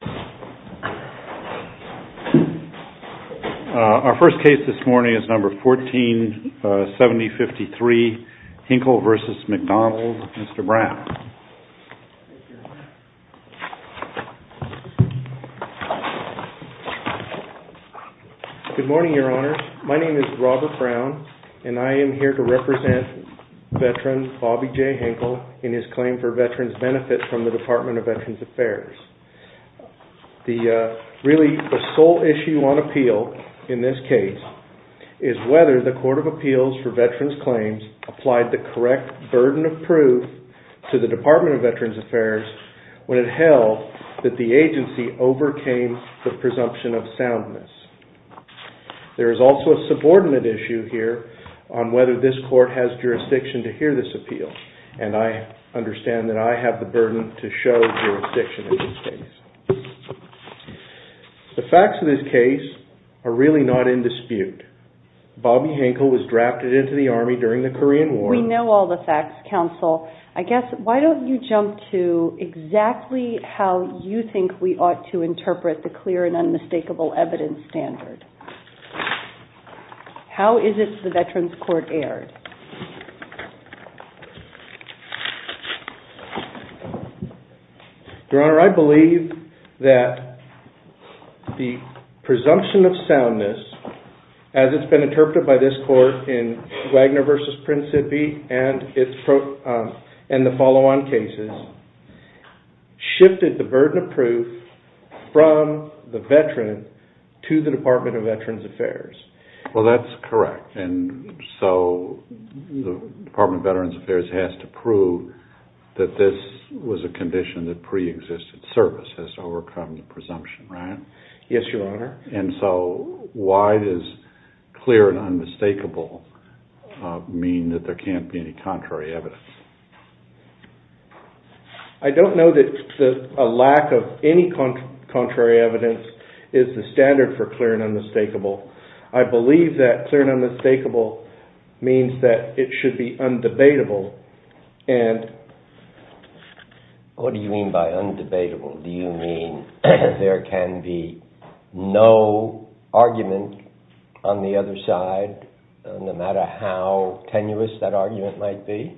Good morning, Your Honors. My name is Robert Brown, and I am here to represent veteran Bobby J. Hinkle in his claim for Veterans Benefit from the Department of Veterans Affairs. The really the sole issue on appeal in this case is whether the Court of Appeals for Veterans Claims applied the correct burden of proof to the Department of Veterans Affairs when it held that the agency overcame the presumption of soundness. There is also a subordinate issue here on whether this Court has jurisdiction to hear this appeal, and I understand that I have the burden to show jurisdiction in this case. The facts of this case are really not in dispute. Bobby Hinkle was drafted into the Army during the Korean War. We know all the facts, Counsel. I guess, why don't you jump to exactly how you think we How is it the Veterans Court erred? Your Honor, I believe that the presumption of soundness, as it's been interpreted by this Court in Wagner v. Principi and the follow-on cases, shifted the burden of proof from the Department of Veterans Affairs. Well, that's correct. And so the Department of Veterans Affairs has to prove that this was a condition that preexisted. Service has to overcome the presumption, right? Yes, Your Honor. And so why does clear and unmistakable mean that there can't be any contrary evidence? I don't know that a lack of any contrary evidence is the standard for clear and unmistakable. I believe that clear and unmistakable means that it should be undebatable. What do you mean by undebatable? Do you mean there can be no argument on the other side, no matter how tenuous that argument might be?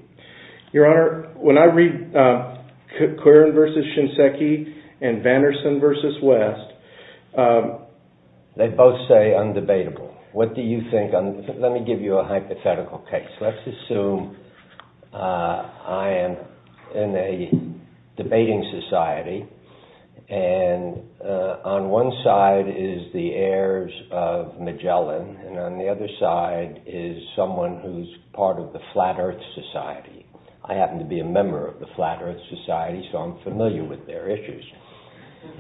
Your Honor, when I read Cuaron v. Shinseki and Vanderson v. West, they both say undebatable. What do you think? Let me give you a hypothetical case. Let's assume I am in a debating society, and on one side is the heirs of Magellan, and on the other side is someone who's part of the Flat Earth Society. I happen to be a member of the Flat Earth Society, so I'm familiar with their issues.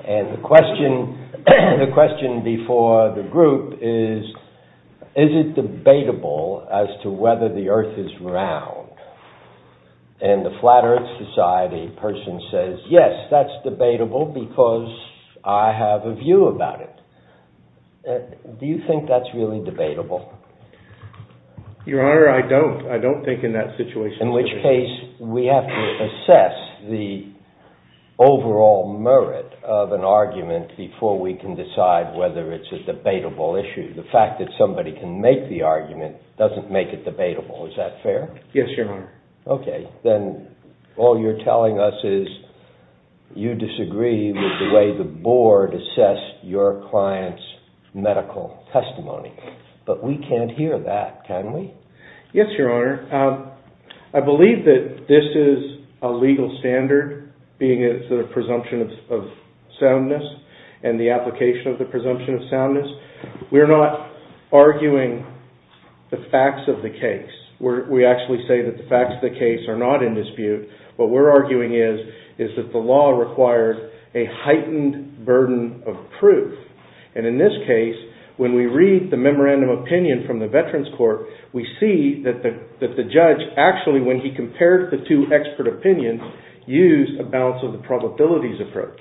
And the question before the group is, is it debatable as to whether the Earth is round? And the Flat Earth Society person says, yes, that's debatable because I have a view about it. Do you think that's really debatable? Your Honor, I don't. I don't think in that situation. In which case, we have to assess the overall merit of an argument before we can decide whether it's a debatable issue. The fact that somebody can make the argument doesn't make it debatable. Is that fair? Yes, Your Honor. Okay. Then all you're telling us is you disagree with the way the board assessed your client's medical testimony. But we can't hear that, can we? Yes, Your Honor. I believe that this is a legal standard, being a presumption of soundness and the facts of the case are not in dispute. What we're arguing is that the law requires a heightened burden of proof. And in this case, when we read the memorandum opinion from the Veterans Court, we see that the judge actually, when he compared the two expert opinions, used a balance of the probabilities approach.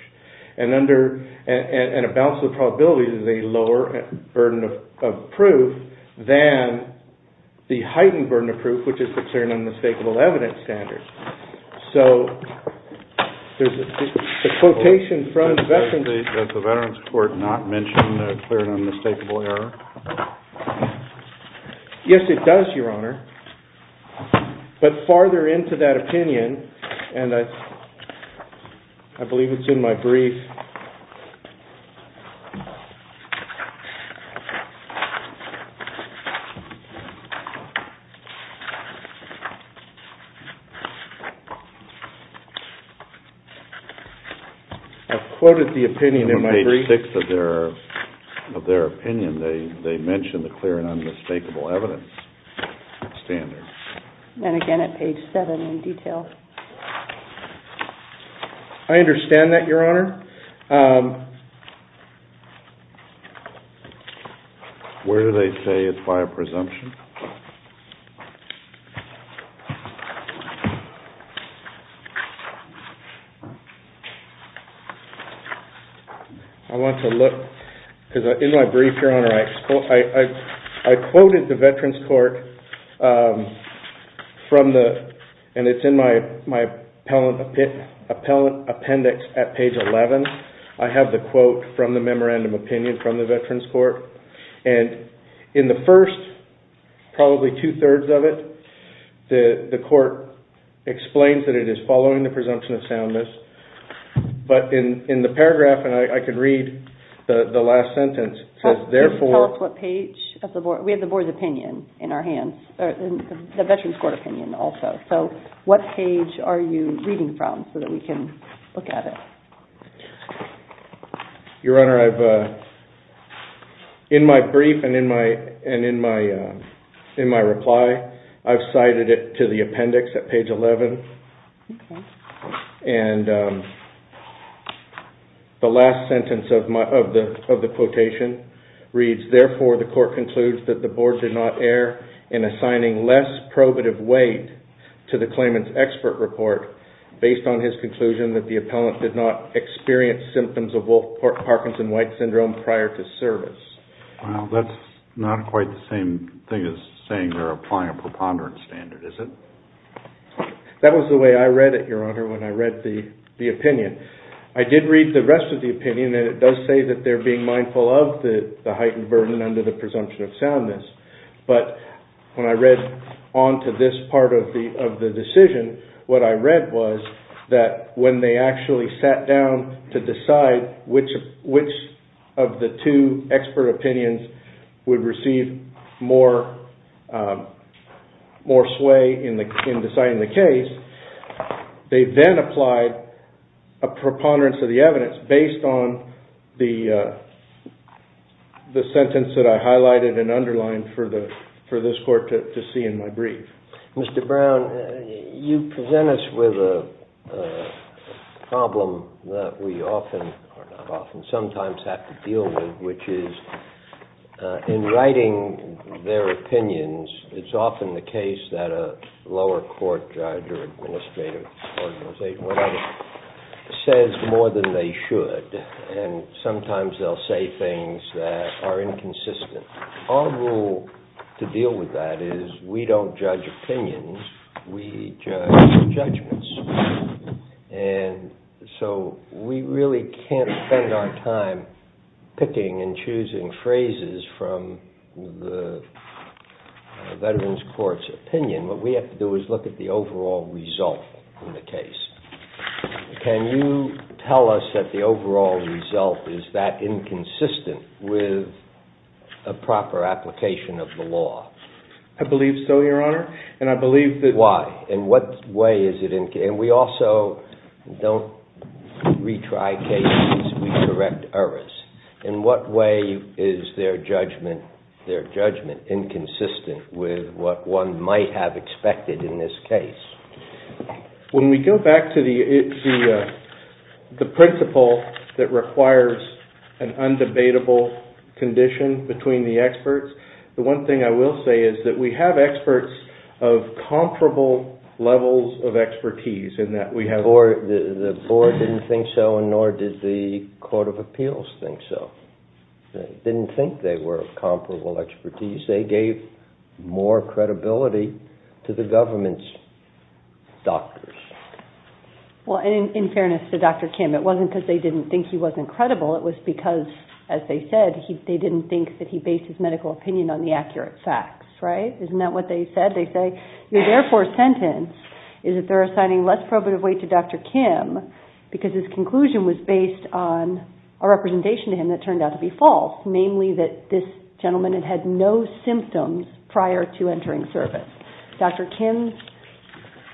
And a balance of the probabilities is a lower burden of proof than the heightened burden of proof, which is the clear and unmistakable evidence standard. So, there's a quotation from the Veterans Court. Does the Veterans Court not mention the clear and unmistakable error? Yes, it does, Your Honor. But farther into that opinion, and I believe it's in my brief. I've quoted the opinion in page 6 of their opinion. They mention the clear and unmistakable evidence standard. And again at page 7 in detail. I understand that, Your Honor. Where do they say it's by a presumption? I want to look, because in my brief, Your Honor, I quoted the Veterans Court from the, and it's in my appellate appendix at page 11. I have the quote from the memorandum opinion from the Veterans Court. And in the first, probably two-thirds of it, the court explains that it is following the presumption of soundness. But in the paragraph, and I could read the last sentence, it says, therefore... Tell us what page of the board, we have the board's opinion in our hands, the Veterans Court opinion also. So, what page are you reading from so that we can look at it? Your Honor, I've, in my brief and in my reply, I've cited it to the appendix at page 11. And the last sentence of the quotation reads, therefore, the court concludes that the board did not err in assigning less probative weight to the claimant's expert report based on his conclusion that the appellant did not experience symptoms of Wolf-Parkinson-White syndrome prior to service. Well, that's not quite the same thing as saying they're applying a preponderance standard, is it? That was the way I read it, Your Honor, when I read the opinion. I did read the rest of the opinion, and it does say that they're being mindful of the heightened burden under the presumption of soundness. But when I read on to this part of the decision, what I read was that when they actually sat down to decide which of the two expert opinions would receive more sway in deciding the case, they then applied a preponderance of the evidence based on the sentence that I highlighted and underlined for this court to see in my brief. Mr. Brown, you present us with a problem that we often, or not often, sometimes have to deal with, which is in writing their opinions, it's often the case that a lower court judge or administrative organization says more than they should. And sometimes they'll say things that are inconsistent. Our rule to deal with that is we don't judge opinions, we judge judgments. And so we really can't spend our time picking and choosing phrases from the Veterans Court's opinion. What we have to do is look at the overall result in the case. Can you tell us that the overall result is that inconsistent with a proper application of the law? I believe so, Your Honor, and I believe that... Why? In what way is it inconsistent? And we also don't retry cases, we correct errors. In what way is their judgment inconsistent with what one might have expected in this case? When we go back to the principle that requires an undebatable condition between the experts, the one thing I will say is that we have experts of comparable levels of expertise in that we have... The board didn't think so, and nor did the Court of Appeals think so. They didn't think they were of comparable expertise. They gave more credibility to the government's doctors. Well, in fairness to Dr. Kim, it wasn't because they didn't think he wasn't credible, it was because, as they said, they didn't think that he based his medical opinion on the accurate facts, right? Isn't that what they said? They say, your therefore sentence is that they're assigning less probative weight to Dr. Kim because his conclusion was based on a representation to him that turned out to be false, namely that this gentleman had had no symptoms prior to entering service. Dr. Kim's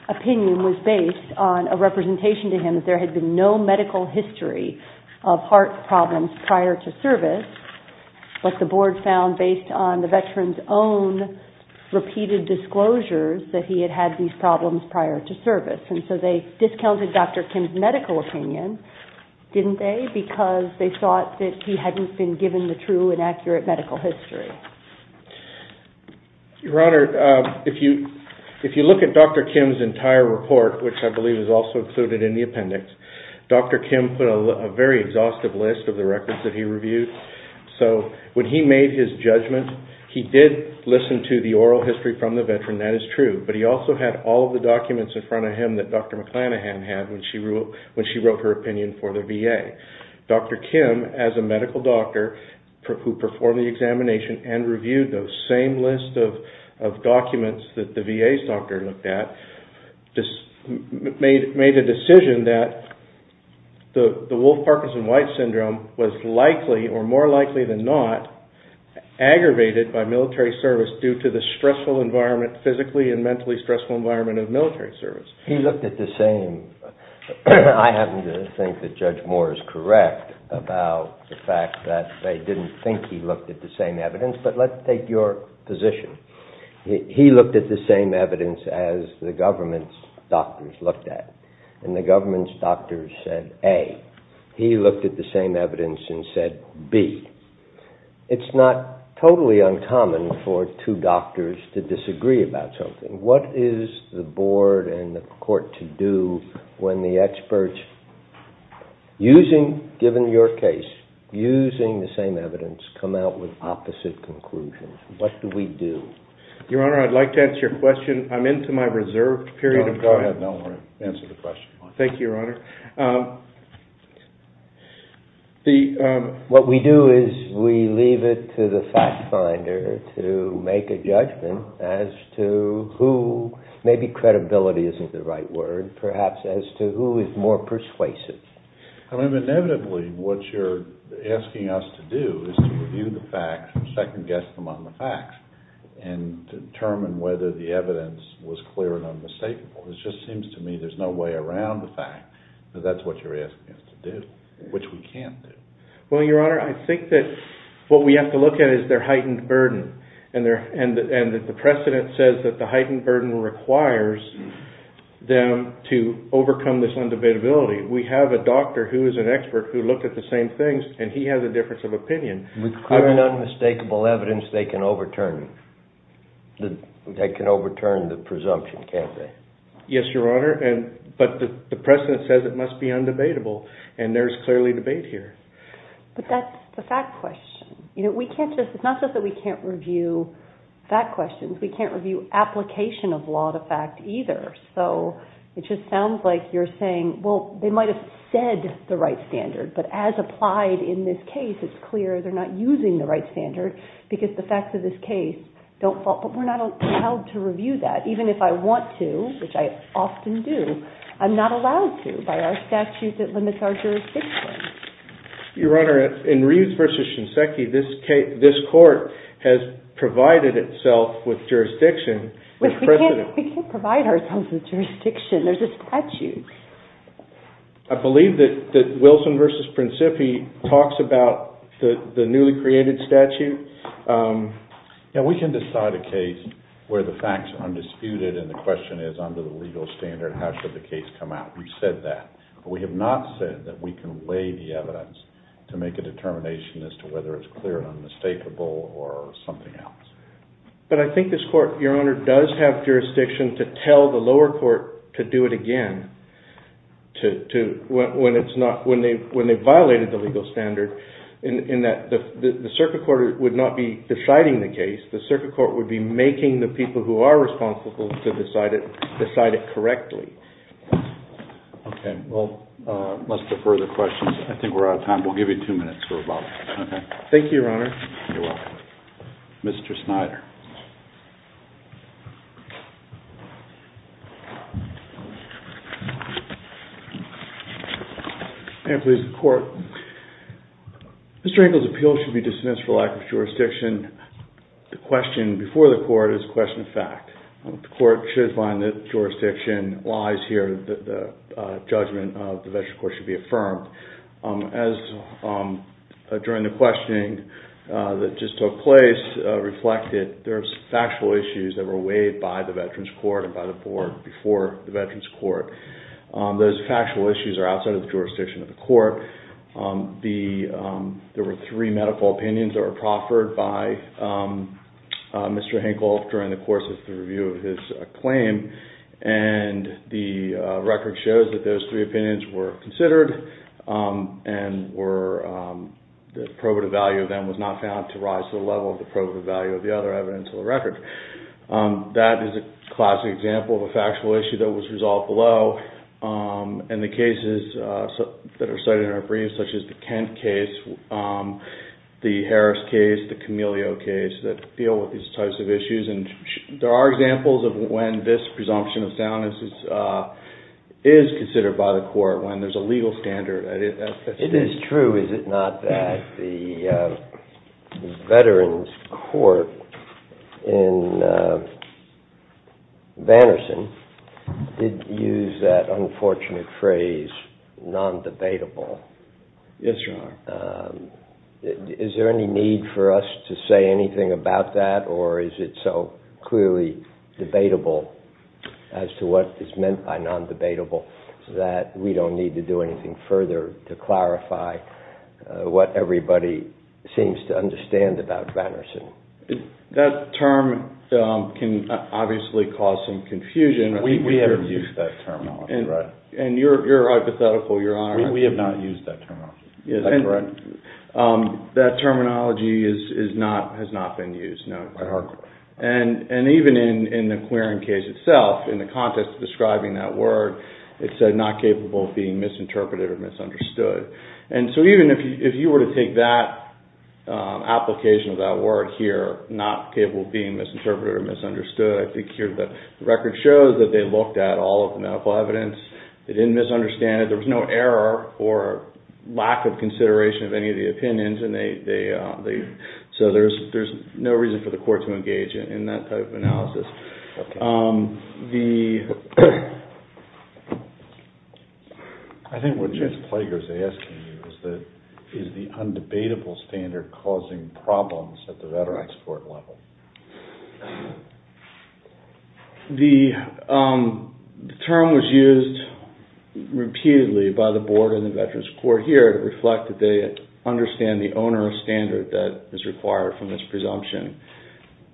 opinion was based on a representation to him that there had been no medical history of heart problems prior to service, but the board found based on the veteran's own repeated disclosures that he had had these problems prior to service. And so they discounted Dr. Kim's medical opinion, didn't they? Because they thought that he hadn't been given the true and accurate medical history. Your Honor, if you look at Dr. Kim's entire report, which I believe is also included in the appendix, Dr. Kim put a very exhaustive list of the records that he reviewed. So when he made his judgment, he did listen to the oral history from the veteran, that is true, but he also had all of the documents in front of him that Dr. McClanahan had when she wrote her opinion for the VA. Dr. Kim, as a medical doctor who performed the examination and reviewed those same list of documents that the VA's doctor looked at, made a decision that the Wolf-Parkinson-White Syndrome was likely or more likely than not aggravated by military service due to the stressful environment, physically and mentally stressful environment of military service. He looked at the same, I happen to think that Judge Moore is correct about the fact that they didn't think he looked at the same evidence, but let's take your position. He looked at the same evidence as the government's doctors looked at. And the government's doctors said A. He looked at the same evidence and said B. It's not totally uncommon for two doctors to disagree about something. What is the board and the court to do when the experts, given your case, using the same evidence, come out with opposite conclusions? What do we do? Your Honor, I'd like to answer your question. I'm into my reserved period of time. Go ahead. I don't want to answer the question. Thank you, Your Honor. What we do is we leave it to the fact finder to make a judgment as to who, maybe credibility isn't the right word, perhaps as to who is more persuasive. I mean, inevitably what you're asking us to do is to review the facts and second-guess them on the facts and determine whether the evidence was clear and unmistakable. It just seems to me there's no way around the fact. So that's what you're asking us to do, which we can't do. Well, Your Honor, I think that what we have to look at is their heightened burden and that the precedent says that the heightened burden requires them to overcome this undebatability. We have a doctor who is an expert who looked at the same things, and he has a difference of opinion. With clear and unmistakable evidence, they can overturn the presumption, can't they? Yes, Your Honor, but the precedent says it must be undebatable, and there's clearly debate here. But that's the fact question. It's not just that we can't review fact questions. We can't review application of law to fact either. So it just sounds like you're saying, well, they might have said the right standard, but as applied in this case, it's clear they're not using the right standard because the facts of this case don't fall. But we're not allowed to review that, even if I want to, which I often do. I'm not allowed to by our statute that limits our jurisdiction. Your Honor, in Reeves v. Shinseki, this court has provided itself with jurisdiction. We can't provide ourselves with jurisdiction. There's a statute. I believe that Wilson v. Principi talks about the newly created statute. We can decide a case where the facts are undisputed and the question is, under the legal standard, how should the case come out? We've said that. But we have not said that we can lay the evidence to make a determination as to whether it's clear and unmistakable or something else. But I think this court, Your Honor, does have jurisdiction to tell the lower court to do it again when they've violated the legal standard, in that the circuit court would not be deciding the case. The circuit court would be making the people who are responsible to decide it correctly. Okay. Well, let's defer the questions. I think we're out of time. We'll give you two minutes for rebuttal. Okay. Thank you, Your Honor. You're welcome. Mr. Snyder. Ma'am, please, the court. Mr. Engle's appeal should be dismissed for lack of jurisdiction. The question before the court is a question of fact. The court should find that jurisdiction lies here. The judgment of the veteran court should be affirmed. As during the questioning that just took place reflected, there's factual issues that were weighed by the veterans court and by the board before the veterans court. Those factual issues are outside of the jurisdiction of the court. There were three medical opinions that were proffered by Mr. Engle during the course of the review of his claim. And the record shows that those three opinions were considered and the probative value of them was not found to rise to the level of the probative value of the other evidence in the record. That is a classic example of a factual issue that was resolved below. And the cases that are cited in our brief, such as the Kent case, the Harris case, the Camellio case, that deal with these types of issues. There are examples of when this presumption of soundness is considered by the court, when there's a legal standard. It is true, is it not, that the veterans court in Vanderson did use that unfortunate phrase, non-debatable. Yes, Your Honor. Is there any need for us to say anything about that? Or is it so clearly debatable as to what is meant by non-debatable that we don't need to do anything further to clarify what everybody seems to understand about Vanderson? That term can obviously cause some confusion. We haven't used that terminology. And you're hypothetical, Your Honor. We have not used that terminology. That terminology has not been used, no. And even in the Querin case itself, in the context of describing that word, it said not capable of being misinterpreted or misunderstood. And so even if you were to take that application of that word here, not capable of being misinterpreted or misunderstood, I think here the record shows that they looked at all of the medical evidence. They didn't misunderstand it. There was no error or lack of consideration of any of the opinions. So there's no reason for the court to engage in that type of analysis. I think what Judge Plager is asking you is that is the undebatable standard causing problems at the veterans court level? The term was used repeatedly by the board and the veterans court here to reflect that they understand the onerous standard that is required from this presumption.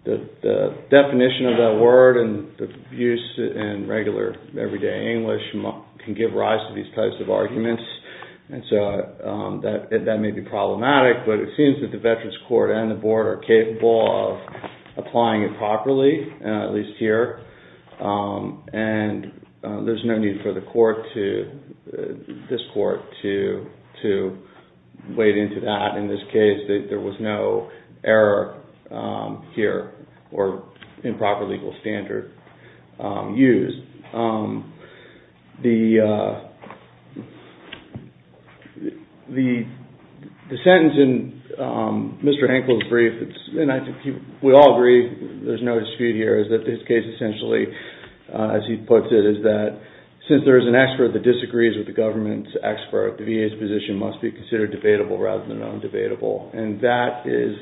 The definition of that word and the use in regular, everyday English can give rise to these types of arguments. And so that may be problematic, but it seems that the veterans court and the board are capable of applying it properly, at least here. And there's no need for this court to wade into that. In this case, there was no error here or improper legal standard used. The sentence in Mr. Hankel's brief, and we all agree, there's no dispute here, is that this case essentially, as he puts it, is that since there is an expert that disagrees with the government's expert, the VA's position must be considered debatable rather than undebatable. And that is,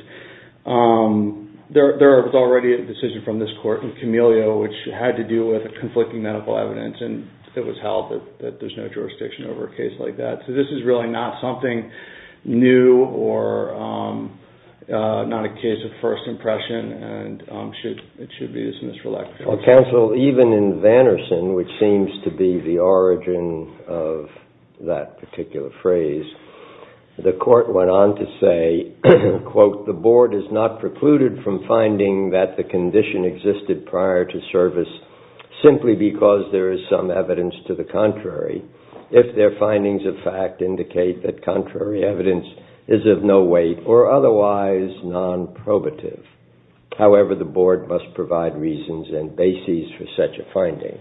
there was already a decision from this court in Camellio which had to do with conflicting medical evidence and it was held that there's no jurisdiction over a case like that. So this is really not something new or not a case of first impression and it should be dismissed reluctantly. Counsel, even in Vanerson, which seems to be the origin of that particular phrase, the court went on to say, quote, the board is not precluded from finding that the condition existed prior to service simply because there is some evidence to the contrary, if their findings of fact indicate that contrary evidence is of no weight or otherwise non-probative. However, the board must provide reasons and bases for such a finding,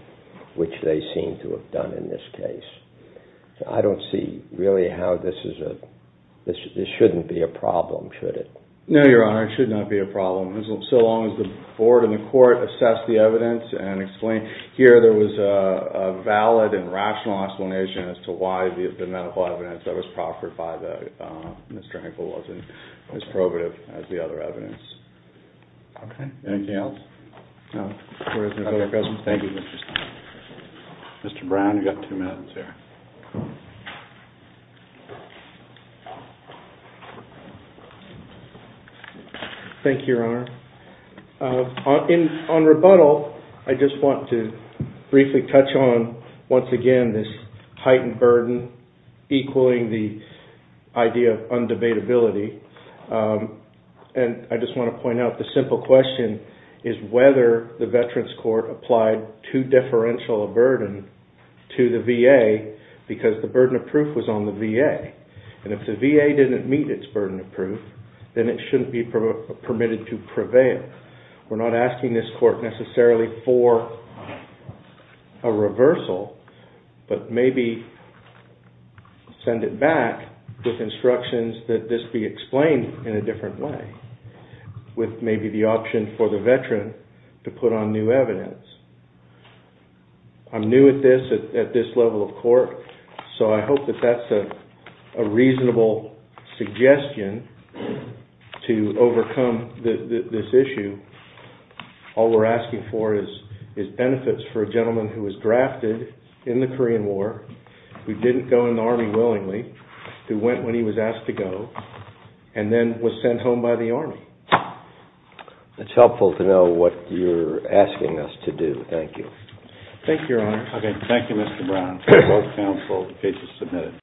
which they seem to have done in this case. I don't see really how this is a, this shouldn't be a problem, should it? No, Your Honor, it should not be a problem. So long as the board and the court assess the evidence and explain, here there was a valid and rational explanation as to why the medical evidence that was proffered by Mr. Hankel wasn't as probative as the other evidence. Okay. Anything else? No. Thank you, Mr. Stein. Mr. Brown, you've got two minutes here. Thank you, Your Honor. On rebuttal, I just want to briefly touch on, once again, this heightened burden, equaling the idea of undebatability. And I just want to point out the simple question is whether the Veterans Court applied too deferential a burden to the VA because the burden of proof was on the VA. And if the VA didn't meet its burden of proof, then it shouldn't be permitted to prevail. We're not asking this court necessarily for a reversal, but maybe send it back with instructions that this be explained in a different way, with maybe the option for the Veteran to put on new evidence. I'm new at this, at this level of court, so I hope that that's a reasonable suggestion to overcome this issue. All we're asking for is benefits for a gentleman who was drafted in the Korean War, who didn't go in the Army willingly, who went when he was asked to go, and then was sent home by the Army. It's helpful to know what you're asking us to do. Thank you. Thank you, Your Honor. Okay. Thank you, Mr. Brown. Both counsel, the case is submitted.